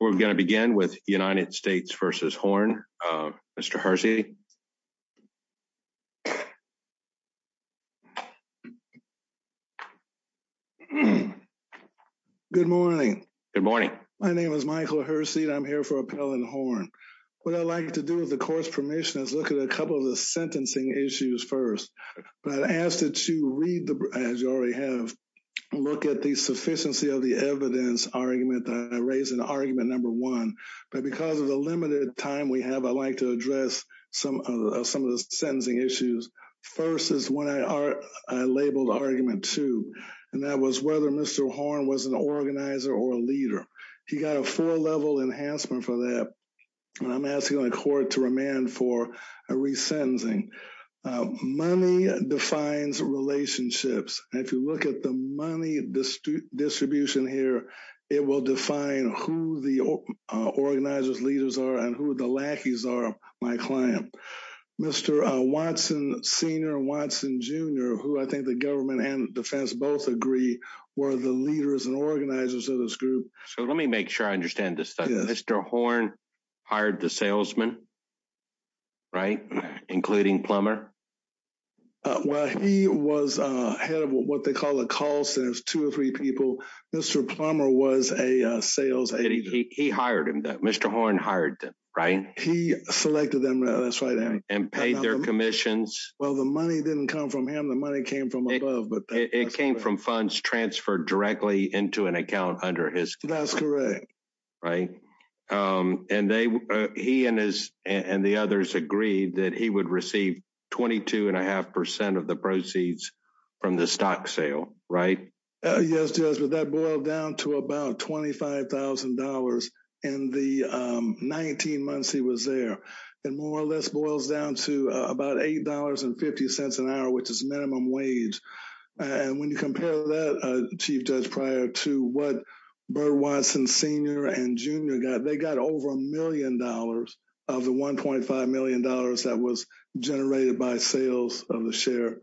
We're going to begin with United States v. Horn. Mr. Hersey. Good morning. Good morning. My name is Michael Hersey and I'm here for Appellant Horn. What I'd like to do with the court's permission is look at a couple of the sentencing issues first. But I'd ask that you read, as you already have, look at the sufficiency of the evidence argument that I raised in argument number one. But because of the limited time we have, I'd like to address some of the sentencing issues. First is what I labeled argument two, and that was whether Mr. Horn was an organizer or a leader. He got a four-level enhancement for that, and I'm asking the court to remand for a resentencing. Money defines relationships. If you look at the money distribution here, it will define who the organizer's leaders are and who the lackeys are, my client. Mr. Watson Sr. and Watson Jr., who I think the government and defense both agree, were the leaders and organizers of this group. So let me make sure I understand this stuff. Mr. Horn hired the salesman, right, including Plummer? Well, he was head of what they call a call center. It's two or three people. Mr. Plummer was a sales agent. He hired him. Mr. Horn hired them, right? He selected them. That's right. And paid their commissions. Well, the money didn't come from him. The money came from above. It came from funds transferred directly into an account under his. That's correct. Right? And he and the others agreed that he would receive 22.5% of the proceeds from the stock sale, right? Yes, Judge, but that boiled down to about $25,000 in the 19 months he was there. It more or less boils down to about $8.50 an hour, which is minimum wage. And when you compare that, Chief Judge Pryor, to what Bird, Watson Sr. and Jr. got, they got over a million dollars of the $1.5 million that was generated by sales of the share.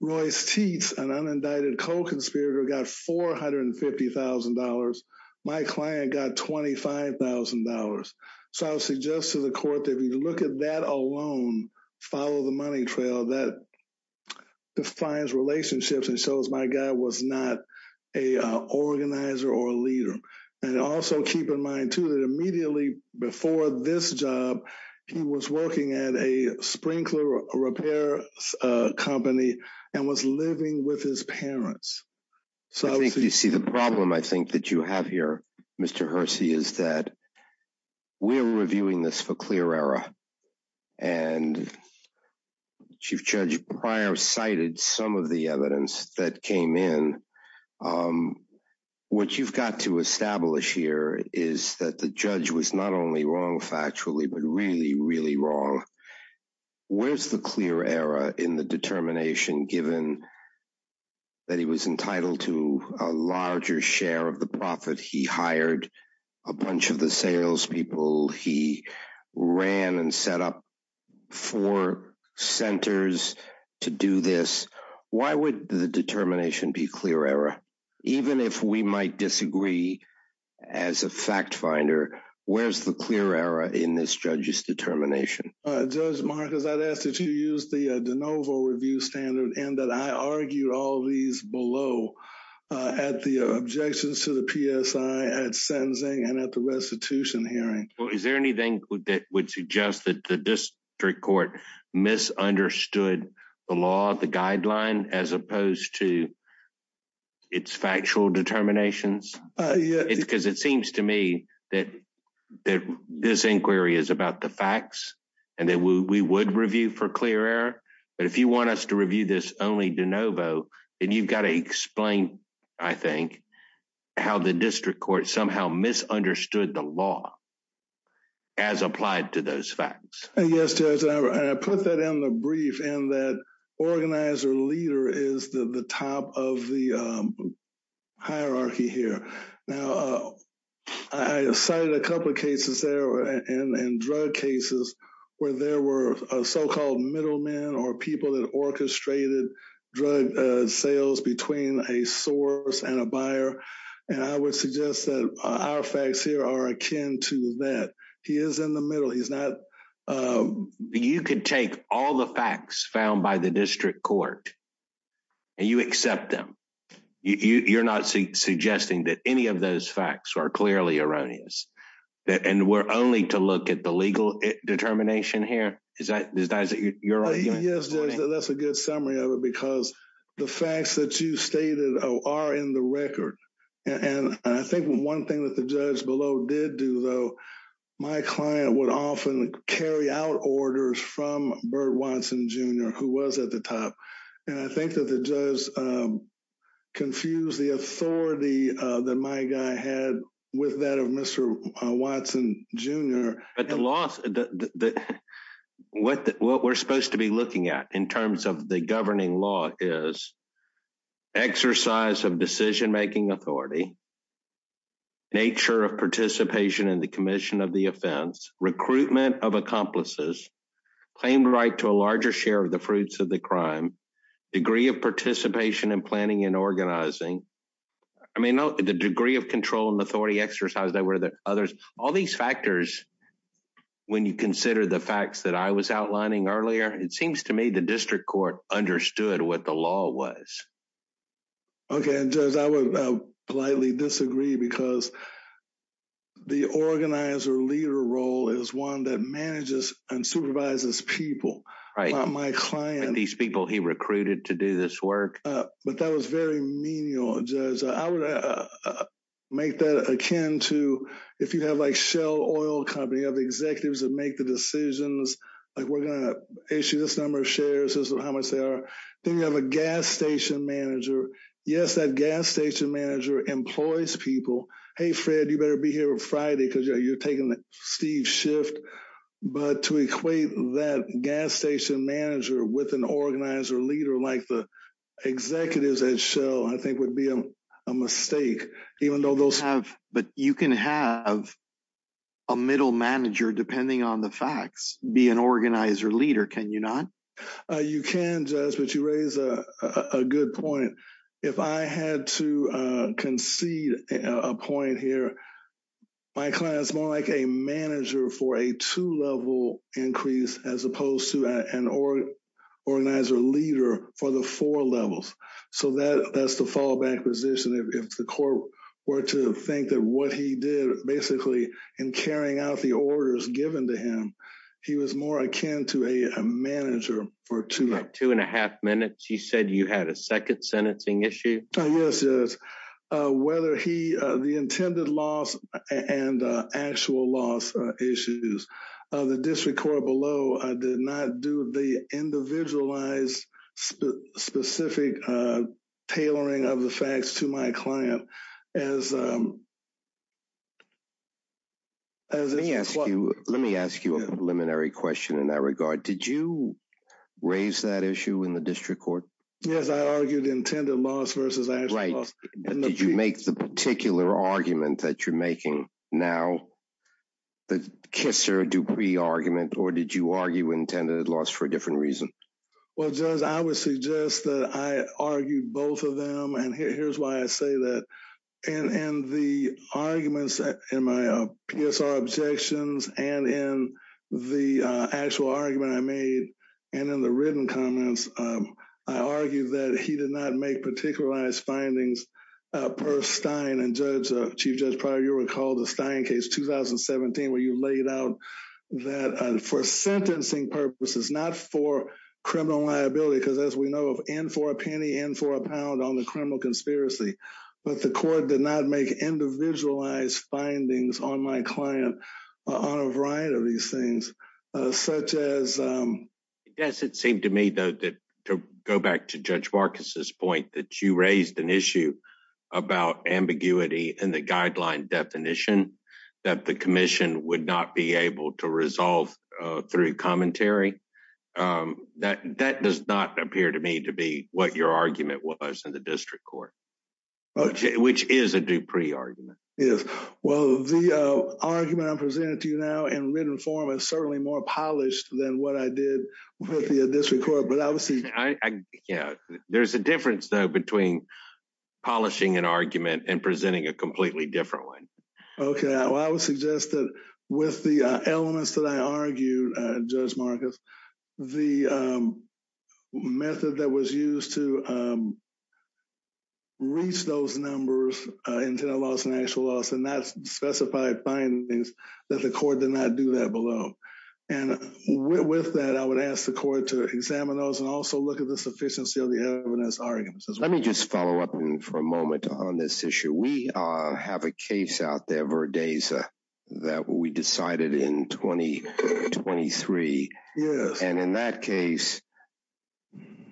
Royce Teets, an unindicted co-conspirator, got $450,000. My client got $25,000. So I would suggest to the court that if you look at that alone, follow the money trail, that defines relationships and shows my guy was not an organizer or a leader. And also keep in mind, too, that immediately before this job, he was working at a sprinkler repair company and was living with his parents. So I think you see the problem I think that you have here, Mr. Hersey, is that we're reviewing this for clear error. And Chief Judge Pryor cited some of the evidence that came in. What you've got to establish here is that the judge was not only wrong factually, but really, really wrong. Where's the clear error in the determination given that he was entitled to a larger share of the profit? He hired a bunch of the salespeople. He ran and set up four centers to do this. Why would the determination be clear error? Even if we might disagree as a fact finder, where's the clear error in this judge's determination? Judge Marcus, I'd ask that you use the de novo review standard and that I argue all these below at the objections to the PSI at sentencing and at the restitution hearing. Well, is there anything that would suggest that the district court misunderstood the law, the guideline, as opposed to its factual determinations? Because it seems to me that this inquiry is about the facts and that we would review for clear error. But if you want us to review this only de novo, then you've got to explain, I think, how the district court somehow misunderstood the law as applied to those facts. Yes, Judge, I put that in the brief and that organizer leader is the top of the hierarchy here. Now, I cited a couple of cases there and drug cases where there were so-called middlemen or people that orchestrated drug sales between a source and a buyer. And I would suggest that our facts here are akin to that. He is in the middle. He's not. You can take all the facts found by the district court. And you accept them. You're not suggesting that any of those facts are clearly erroneous. And we're only to look at the legal determination here. Is that is that you're right? Yes. That's a good summary of it, because the facts that you stated are in the record. And I think one thing that the judge below did do, though, my client would often carry out orders from Bert Watson, Jr., who was at the top. And I think that the judge confused the authority that my guy had with that of Mr. Watson, Jr. But the loss that what we're supposed to be looking at in terms of the governing law is exercise of decision making authority. Nature of participation in the commission of the offense, recruitment of accomplices, claimed right to a larger share of the fruits of the crime, degree of participation in planning and organizing. I mean, the degree of control and authority exercise that were the others, all these factors. When you consider the facts that I was outlining earlier, it seems to me the district court understood what the law was. OK, and I would politely disagree because the organizer leader role is one that manages and supervises people. Right. My client and these people he recruited to do this work. But that was very menial. I would make that akin to if you have like Shell Oil Company of executives that make the decisions like we're going to issue this number of shares, how much they are. Then you have a gas station manager. Yes, that gas station manager employs people. Hey, Fred, you better be here on Friday because you're taking the Steve shift. But to equate that gas station manager with an organizer leader like the executives at Shell, I think would be a mistake, even though those have. But you can have. A middle manager, depending on the facts, be an organizer leader, can you not? You can judge, but you raise a good point. If I had to concede a point here, my client is more like a manager for a two level increase as opposed to an organizer leader for the four levels. So that that's the fallback position. If the court were to think that what he did basically in carrying out the orders given to him, he was more akin to a manager for two, two and a half minutes. He said you had a second sentencing issue. Yes, yes. Whether he the intended loss and actual loss issues of the district court below, I did not do the individualized specific tailoring of the facts to my client as. As I ask you, let me ask you a preliminary question in that regard, did you raise that issue in the district court? Yes, I argued intended loss versus. Right. Did you make the particular argument that you're making now? The kisser to be argument, or did you argue intended loss for a different reason? Well, just I would suggest that I argued both of them. And here's why I say that. And the arguments in my PSR objections and in the actual argument I made and in the written comments, I argued that he did not make particularized findings. I did not make individualized findings on my client on a variety of these things, such as yes, it seemed to me, though, to go back to Judge Marcus's point that you raised an issue. About ambiguity and the guideline definition that the commission would not be able to resolve through commentary that that does not appear to me to be what your argument was in the district court, which is a Dupree argument. Yes. Well, the argument I presented to you now in written form is certainly more polished than what I did with the district court. There's a difference, though, between polishing an argument and presenting a completely different one. OK, well, I would suggest that with the elements that I argued, Judge Marcus, the method that was used to. Reach those numbers into the loss and actual loss and that's specified findings that the court did not do that below. And with that, I would ask the court to examine those and also look at the sufficiency of the evidence arguments. Let me just follow up for a moment on this issue. We have a case out there, Verdeza, that we decided in 2023. And in that case,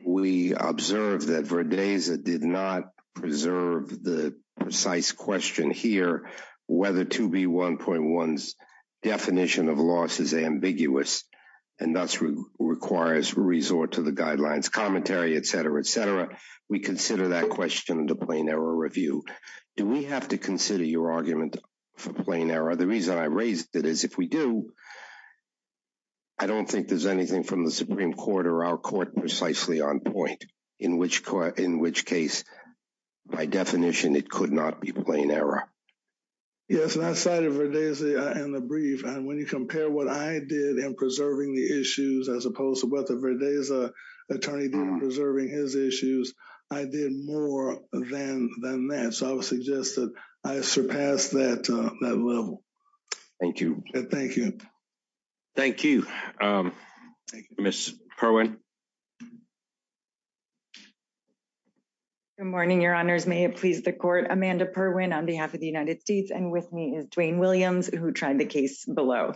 we observed that Verdeza did not preserve the precise question here, whether to be one point one's definition of loss is ambiguous and thus requires resort to the guidelines, commentary, etc., etc. We consider that question to plain error review. Do we have to consider your argument for plain error? The reason I raised that is if we do. I don't think there's anything from the Supreme Court or our court precisely on point, in which in which case, by definition, it could not be plain error. Yes, and I cited Verdeza in the brief, and when you compare what I did in preserving the issues as opposed to what Verdeza attorney did in preserving his issues, I did more than that. So I would suggest that I surpassed that level. Thank you. Thank you. Thank you, Ms. Perwin. Good morning, your honors. May it please the court. Amanda Perwin on behalf of the United States and with me is Dwayne Williams, who tried the case below.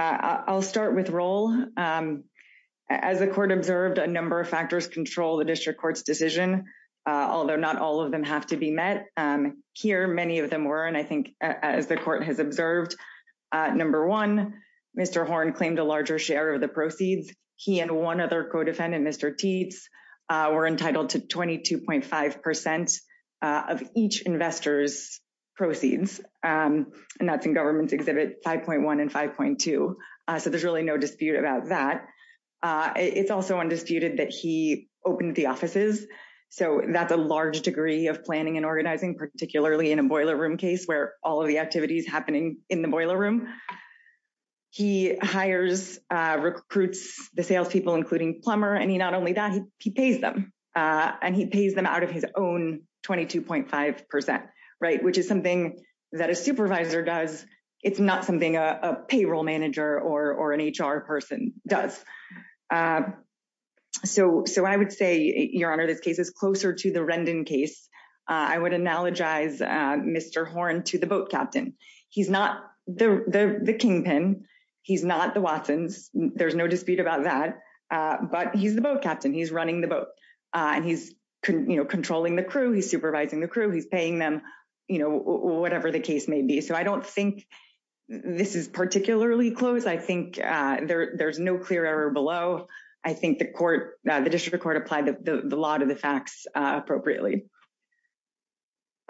I'll start with Roel. As the court observed a number of factors control the district court's decision, although not all of them have to be met. Here, many of them were and I think as the court has observed. Number one, Mr. Horne claimed a larger share of the proceeds. He and one other codefendant, Mr. Tietz, were entitled to 22.5% of each investor's proceeds. And that's in government exhibit 5.1 and 5.2. So there's really no dispute about that. It's also undisputed that he opened the offices. So that's a large degree of planning and organizing, particularly in a boiler room case where all of the activities happening in the boiler room. He hires recruits the salespeople, including Plummer, and he not only that he pays them and he pays them out of his own 22.5%, right, which is something that a supervisor does. It's not something a payroll manager or an HR person does. So so I would say, Your Honor, this case is closer to the Rendon case. I would analogize Mr. Horne to the boat captain. He's not the kingpin. He's not the Watsons. There's no dispute about that. But he's the boat captain. He's running the boat and he's controlling the crew. He's supervising the crew. He's paying them, you know, whatever the case may be. So I don't think this is particularly close. I think there's no clear error below. I think the court, the district court, applied the law to the facts appropriately.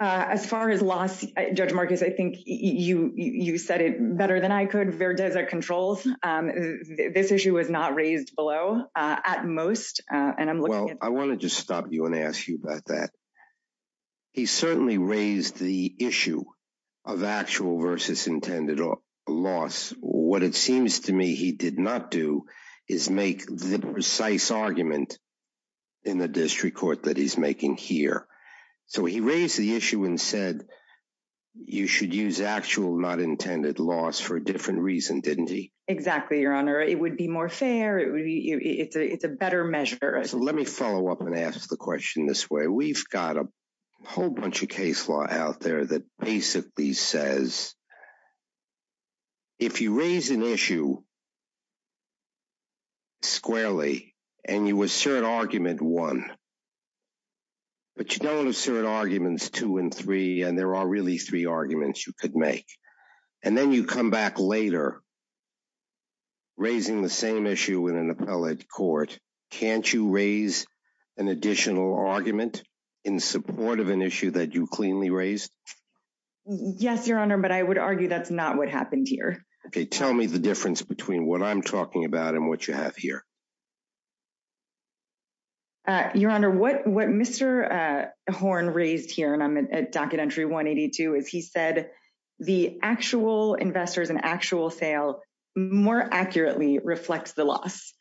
As far as loss, Judge Marcus, I think you said it better than I could. Verdeza controls. This issue was not raised below at most. Well, I want to just stop you and ask you about that. He certainly raised the issue of actual versus intended loss. What it seems to me he did not do is make the precise argument in the district court that he's making here. So he raised the issue and said you should use actual not intended loss for a different reason, didn't he? Exactly, Your Honor. It would be more fair. It's a better measure. So let me follow up and ask the question this way. We've got a whole bunch of case law out there that basically says. If you raise an issue. Squarely and you assert argument one. But you don't assert arguments two and three, and there are really three arguments you could make. And then you come back later. Raising the same issue in an appellate court. Can't you raise an additional argument in support of an issue that you cleanly raised? Yes, Your Honor, but I would argue that's not what happened here. OK, tell me the difference between what I'm talking about and what you have here. Your Honor, what what Mr. Horn raised here and I'm at docket entry 182, as he said, the actual investors and actual sale more accurately reflects the loss.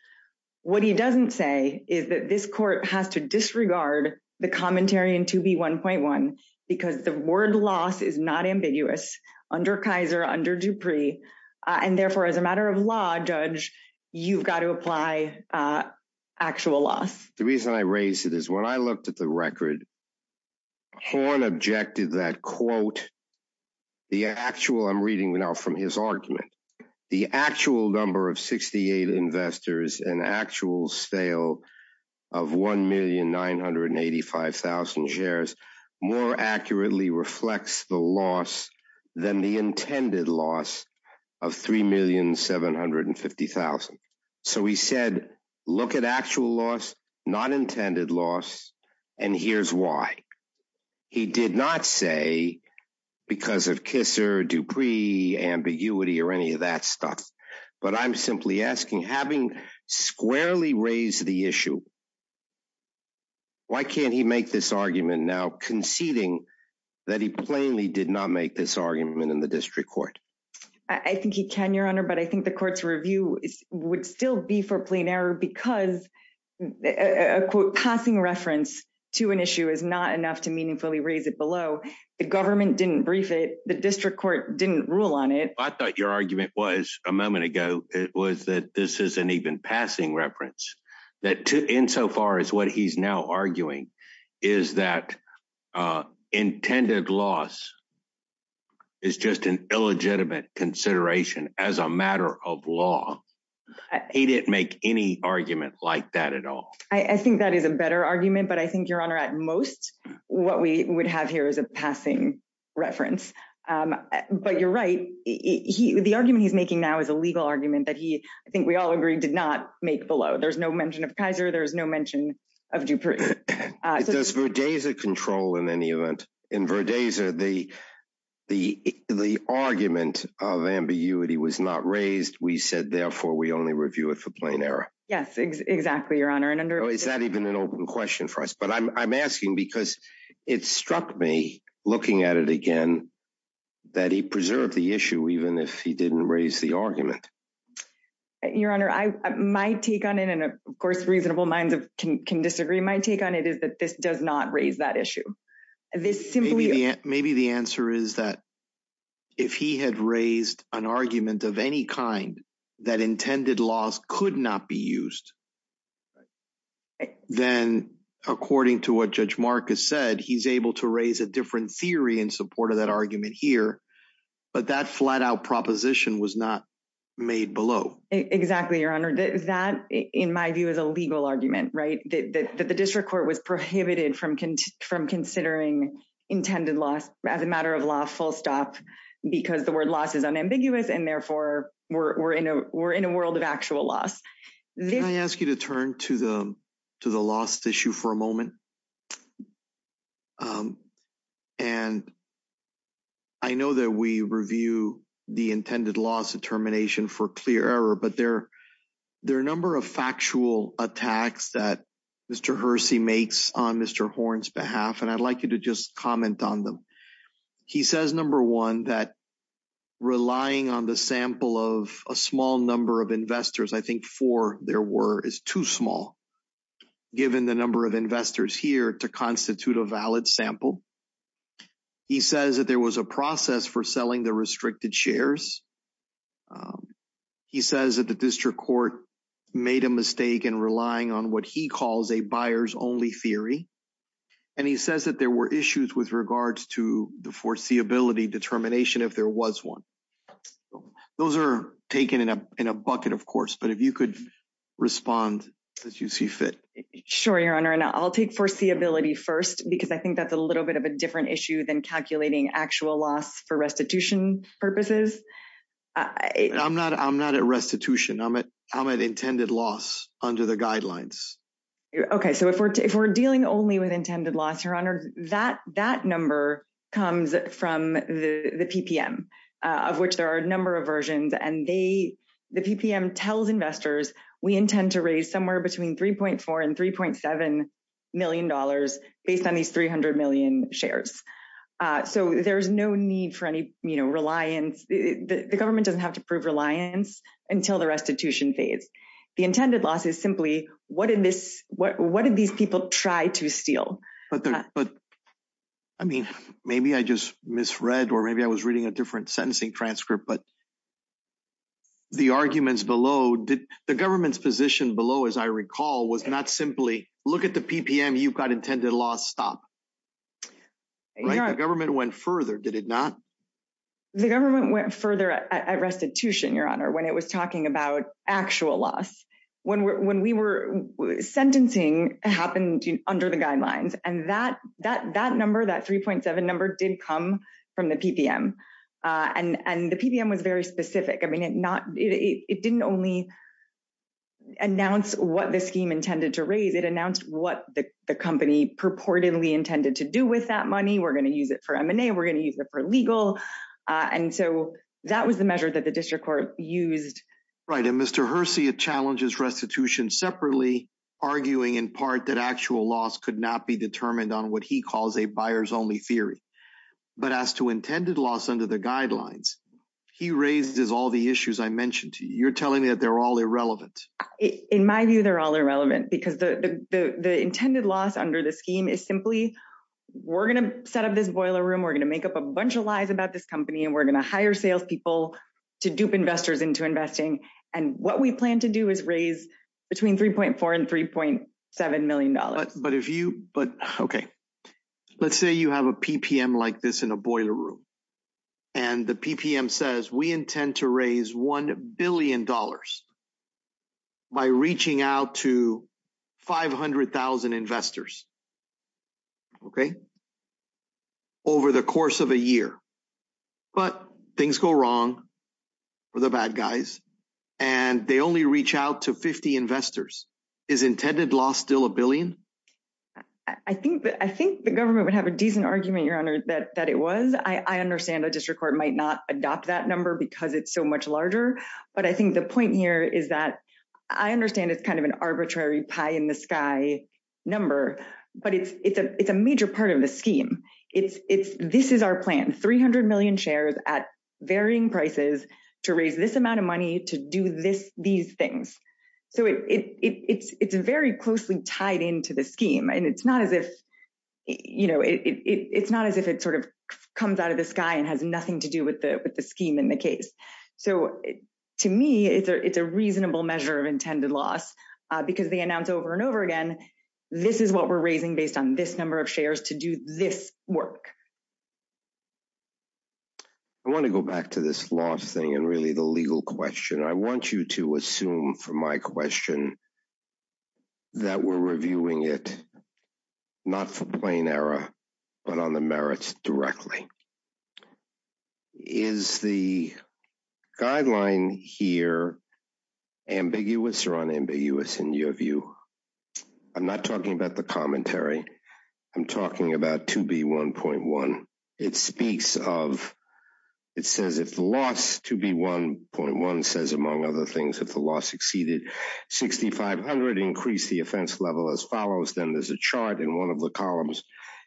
What he doesn't say is that this court has to disregard the commentary and to be one point one, because the word loss is not ambiguous under Kaiser, under Dupree. And therefore, as a matter of law, Judge, you've got to apply actual loss. The reason I raise it is when I looked at the record. Horn objected that, quote. The actual I'm reading now from his argument, the actual number of 68 investors, an actual sale of one million nine hundred and eighty five thousand shares. More accurately reflects the loss than the intended loss of three million seven hundred and fifty thousand. So he said, look at actual loss, not intended loss. And here's why he did not say because of Kisser, Dupree, ambiguity or any of that stuff. But I'm simply asking, having squarely raised the issue. Why can't he make this argument now conceding that he plainly did not make this argument in the district court? I think he can, Your Honor, but I think the court's review would still be for plain error because, quote, passing reference to an issue is not enough to meaningfully raise it below. The government didn't brief it. The district court didn't rule on it. I thought your argument was a moment ago. It was that this is an even passing reference that insofar as what he's now arguing is that intended loss. It's just an illegitimate consideration as a matter of law. He didn't make any argument like that at all. I think that is a better argument, but I think, Your Honor, at most what we would have here is a passing reference. But you're right. The argument he's making now is a legal argument that he, I think we all agree, did not make below. There's no mention of Kaiser. There's no mention of Dupree. Does Verdeza control in any event? In Verdeza, the argument of ambiguity was not raised. We said, therefore, we only review it for plain error. Yes, exactly, Your Honor. Is that even an open question for us? But I'm asking because it struck me, looking at it again, that he preserved the issue, even if he didn't raise the argument. Your Honor, my take on it, and of course, reasonable minds can disagree. My take on it is that this does not raise that issue. Maybe the answer is that if he had raised an argument of any kind that intended laws could not be used, then according to what Judge Marcus said, he's able to raise a different theory in support of that argument here. But that flat out proposition was not made below. Exactly, Your Honor. That, in my view, is a legal argument, right? That the district court was prohibited from considering intended loss as a matter of law full stop because the word loss is unambiguous, and therefore, we're in a world of actual loss. Can I ask you to turn to the loss issue for a moment? And I know that we review the intended loss determination for clear error, but there are a number of factual attacks that Mr. Hersey makes on Mr. Horn's behalf, and I'd like you to just comment on them. He says, number one, that relying on the sample of a small number of investors, I think four there were, is too small given the number of investors here to constitute a valid sample. He says that there was a process for selling the restricted shares. He says that the district court made a mistake in relying on what he calls a buyer's only theory. And he says that there were issues with regards to the foreseeability determination if there was one. Those are taken in a bucket, of course, but if you could respond as you see fit. Sure, Your Honor, and I'll take foreseeability first because I think that's a little bit of a different issue than calculating actual loss for restitution purposes. I'm not at restitution. I'm at intended loss under the guidelines. Okay, so if we're dealing only with intended loss, Your Honor, that number comes from the PPM, of which there are a number of versions. And the PPM tells investors, we intend to raise somewhere between $3.4 and $3.7 million based on these 300 million shares. So there's no need for any reliance. The government doesn't have to prove reliance until the restitution phase. The intended loss is simply, what did these people try to steal? But, I mean, maybe I just misread or maybe I was reading a different sentencing transcript. But the arguments below, the government's position below, as I recall, was not simply, look at the PPM, you've got intended loss, stop. The government went further, did it not? The government went further at restitution, Your Honor, when it was talking about actual loss. When we were sentencing, it happened under the guidelines. And that number, that 3.7 number, did come from the PPM. And the PPM was very specific. I mean, it didn't only announce what the scheme intended to raise, it announced what the company purportedly intended to do with that money. We're going to use it for M&A, we're going to use it for legal. And so that was the measure that the district court used. Right, and Mr. Hersey challenges restitution separately, arguing in part that actual loss could not be determined on what he calls a buyer's only theory. But as to intended loss under the guidelines, he raises all the issues I mentioned to you. You're telling me that they're all irrelevant. In my view, they're all irrelevant, because the intended loss under the scheme is simply, we're going to set up this boiler room, we're going to make up a bunch of lies about this company, and we're going to hire salespeople to dupe investors into investing. And what we plan to do is raise between $3.4 and $3.7 million. But okay, let's say you have a PPM like this in a boiler room. And the PPM says we intend to raise $1 billion by reaching out to 500,000 investors, okay, over the course of a year. But things go wrong for the bad guys. And they only reach out to 50 investors. Is intended loss still $1 billion? I think the government would have a decent argument, Your Honor, that it was. I understand a district court might not adopt that number because it's so much larger. But I think the point here is that I understand it's kind of an arbitrary pie-in-the-sky number, but it's a major part of the scheme. This is our plan, 300 million shares at varying prices to raise this amount of money to do these things. So it's very closely tied into the scheme. And it's not as if it sort of comes out of the sky and has nothing to do with the scheme in the case. So to me, it's a reasonable measure of intended loss because they announce over and over again, this is what we're raising based on this number of shares to do this work. I want to go back to this last thing and really the legal question. I want you to assume from my question that we're reviewing it not for plain error, but on the merits directly. Is the guideline here ambiguous or unambiguous in your view? I'm not talking about the commentary. I'm talking about 2B1.1. It speaks of, it says if the loss, 2B1.1 says, among other things, if the loss exceeded 6,500, increase the offense level as follows. Then there's a chart and one of the columns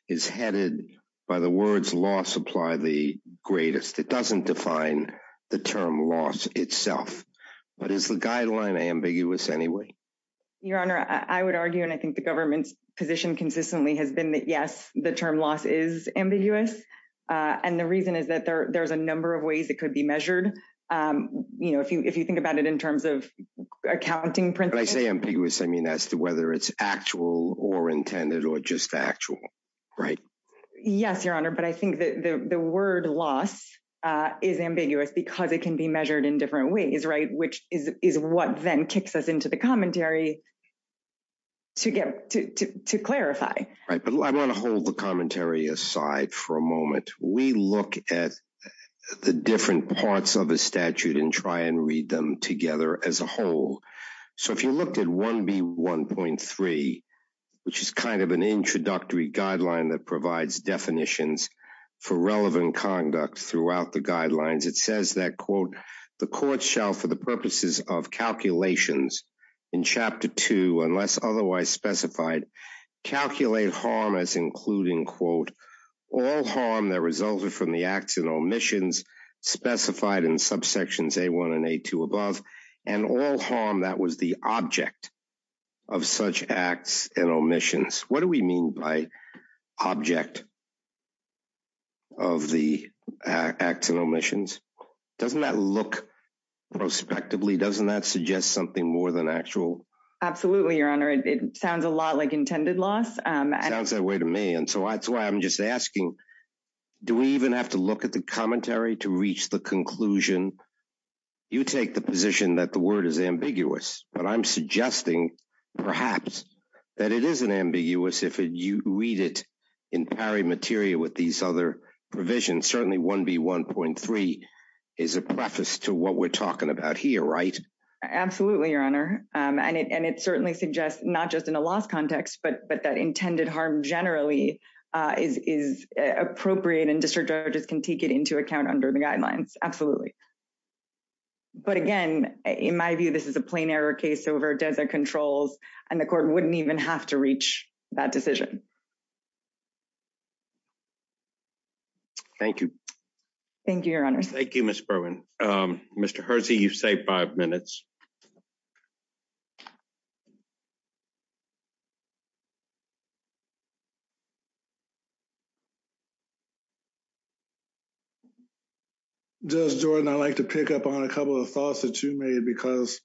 is headed by the words loss apply the greatest. It doesn't define the term loss itself. But is the guideline ambiguous anyway? Your Honor, I would argue, and I think the government's position consistently has been that, yes, the term loss is ambiguous. And the reason is that there's a number of ways it could be measured. You know, if you if you think about it in terms of accounting, I say ambiguous. I mean, as to whether it's actual or intended or just factual. Right. Yes, Your Honor. But I think that the word loss is ambiguous because it can be measured in different ways. Right. Which is what then kicks us into the commentary. To get to clarify. Right. But I want to hold the commentary aside for a moment. We look at the different parts of a statute and try and read them together as a whole. So if you looked at 1B1.3, which is kind of an introductory guideline that provides definitions for relevant conduct throughout the guidelines, it says that, quote, the court shall, for the purposes of calculations in Chapter two, unless otherwise specified, calculate harm as including, quote, all harm that resulted from the acts and omissions specified in subsections A1 and A2 above and all harm that was the object of such acts and omissions. What do we mean by object? Of the acts and omissions, doesn't that look prospectively, doesn't that suggest something more than actual? Absolutely, Your Honor. It sounds a lot like intended loss. It sounds that way to me. And so that's why I'm just asking, do we even have to look at the commentary to reach the conclusion? You take the position that the word is ambiguous, but I'm suggesting perhaps that it isn't ambiguous if you read it in pari materia with these other provisions. Certainly, 1B1.3 is a preface to what we're talking about here, right? Absolutely, Your Honor. And it certainly suggests not just in a loss context, but that intended harm generally is appropriate and district judges can take it into account under the guidelines. Absolutely. But again, in my view, this is a plain error case over desert controls and the court wouldn't even have to reach that decision. Thank you. Thank you, Your Honor. Thank you, Ms. Berwin. Mr. Hersey, you've saved five minutes. Judge Jordan, I'd like to pick up on a couple of thoughts that you made because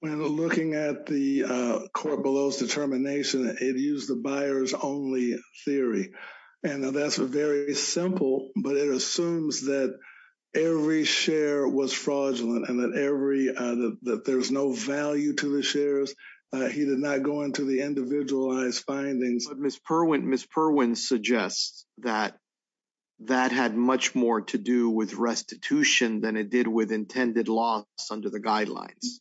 when looking at the court below's determination, it used the buyer's only theory. And that's a very simple, but it assumes that every share was fraudulent and that every that there's no value to the shares. He did not go into the individualized findings. But Ms. Berwin, Ms. Berwin suggests that that had much more to do with restitution than it did with intended loss under the guidelines.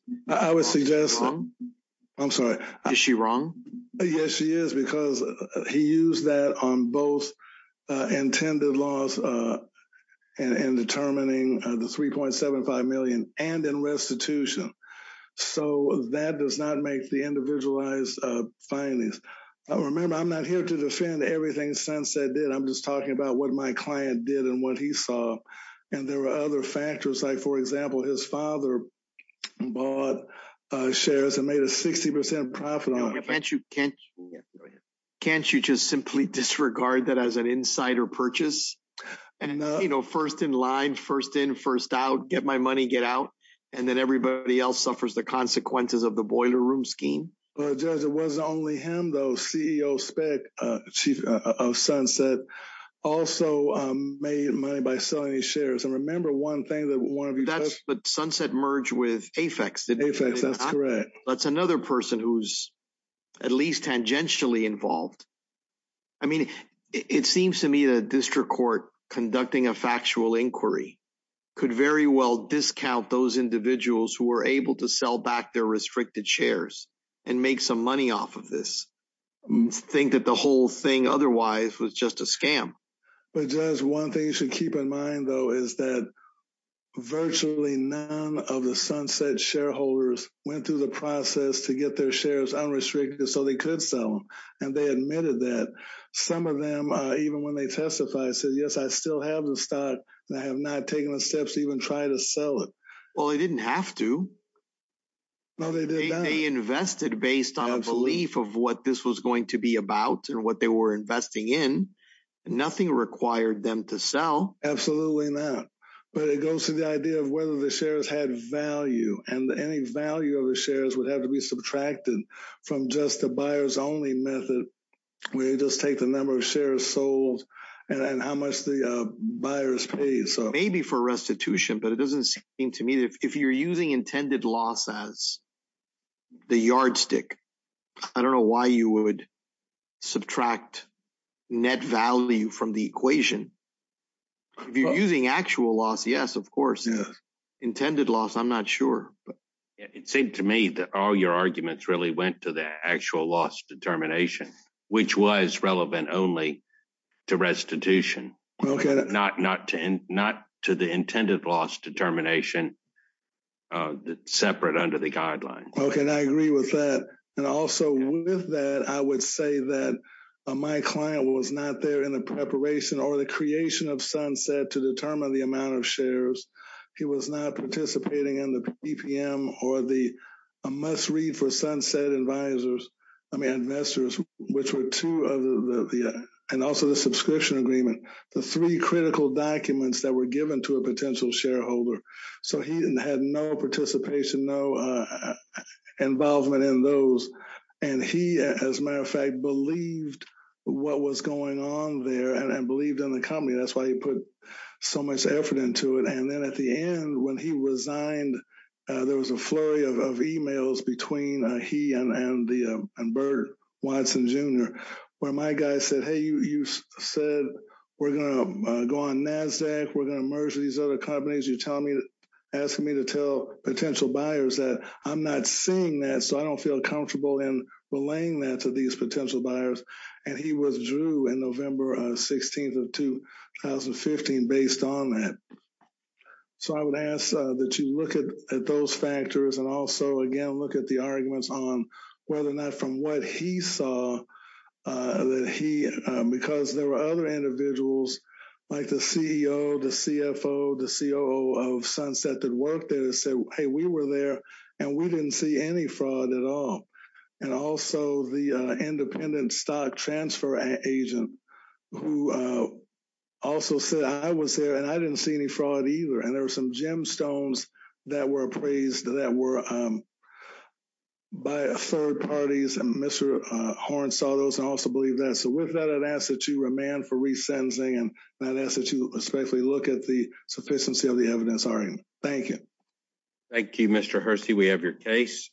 I'm sorry. Is she wrong? Yes, she is, because he used that on both intended loss and determining the 3.75 million and in restitution. So that does not make the individualized findings. Remember, I'm not here to defend everything Sunset did. I'm just talking about what my client did and what he saw. And there were other factors, like, for example, his father bought shares and made a 60 percent profit. Can't you just simply disregard that as an insider purchase? And, you know, first in line, first in, first out, get my money, get out. And then everybody else suffers the consequences of the boiler room scheme. Judge, it wasn't only him, though. CEO Speck, chief of Sunset, also made money by selling his shares. And remember one thing that one of you that's the Sunset merge with Apex. That's correct. That's another person who's at least tangentially involved. I mean, it seems to me that district court conducting a factual inquiry could very well discount those individuals who were able to sell back their restricted shares and make some money off of this. Think that the whole thing otherwise was just a scam. But just one thing you should keep in mind, though, is that virtually none of the Sunset shareholders went through the process to get their shares unrestricted so they could sell them. And they admitted that some of them, even when they testified, said, yes, I still have the stock. I have not taken the steps to even try to sell it. Well, I didn't have to. They invested based on a belief of what this was going to be about and what they were investing in. Nothing required them to sell. Absolutely not. But it goes to the idea of whether the shares had value and any value of the shares would have to be subtracted from just the buyers only method. We just take the number of shares sold and how much the buyers pay. So maybe for restitution, but it doesn't seem to me that if you're using intended loss as the yardstick, I don't know why you would subtract net value from the equation. If you're using actual loss, yes, of course. Intended loss. I'm not sure. It seemed to me that all your arguments really went to the actual loss determination, which was relevant only to restitution. Not to the intended loss determination separate under the guidelines. And I agree with that. And also with that, I would say that my client was not there in the preparation or the creation of Sunset to determine the amount of shares. He was not participating in the PPM or the must read for Sunset advisors. I mean, investors, which were two of the and also the subscription agreement, the three critical documents that were given to a potential shareholder. So he had no participation, no involvement in those. And he, as a matter of fact, believed what was going on there and believed in the company. That's why he put so much effort into it. And then at the end, when he resigned, there was a flurry of emails between he and Bert Watson, Jr. Where my guy said, hey, you said we're going to go on NASDAQ. We're going to merge these other companies. You're telling me, asking me to tell potential buyers that I'm not seeing that. So I don't feel comfortable in relaying that to these potential buyers. And he withdrew in November 16th of 2015 based on that. So I would ask that you look at those factors and also, again, look at the arguments on whether or not from what he saw that he because there were other individuals like the CEO, the CFO, the COO of Sunset that worked there and said, hey, we were there and we didn't see any fraud at all. And also the independent stock transfer agent who also said I was there and I didn't see any fraud either. And there were some gemstones that were appraised that were by third parties. And Mr. Horne saw those and also believe that. So with that, I'd ask that you remand for resentencing and I'd ask that you respectfully look at the sufficiency of the evidence. Thank you. Thank you, Mr. Hersey. We have your case.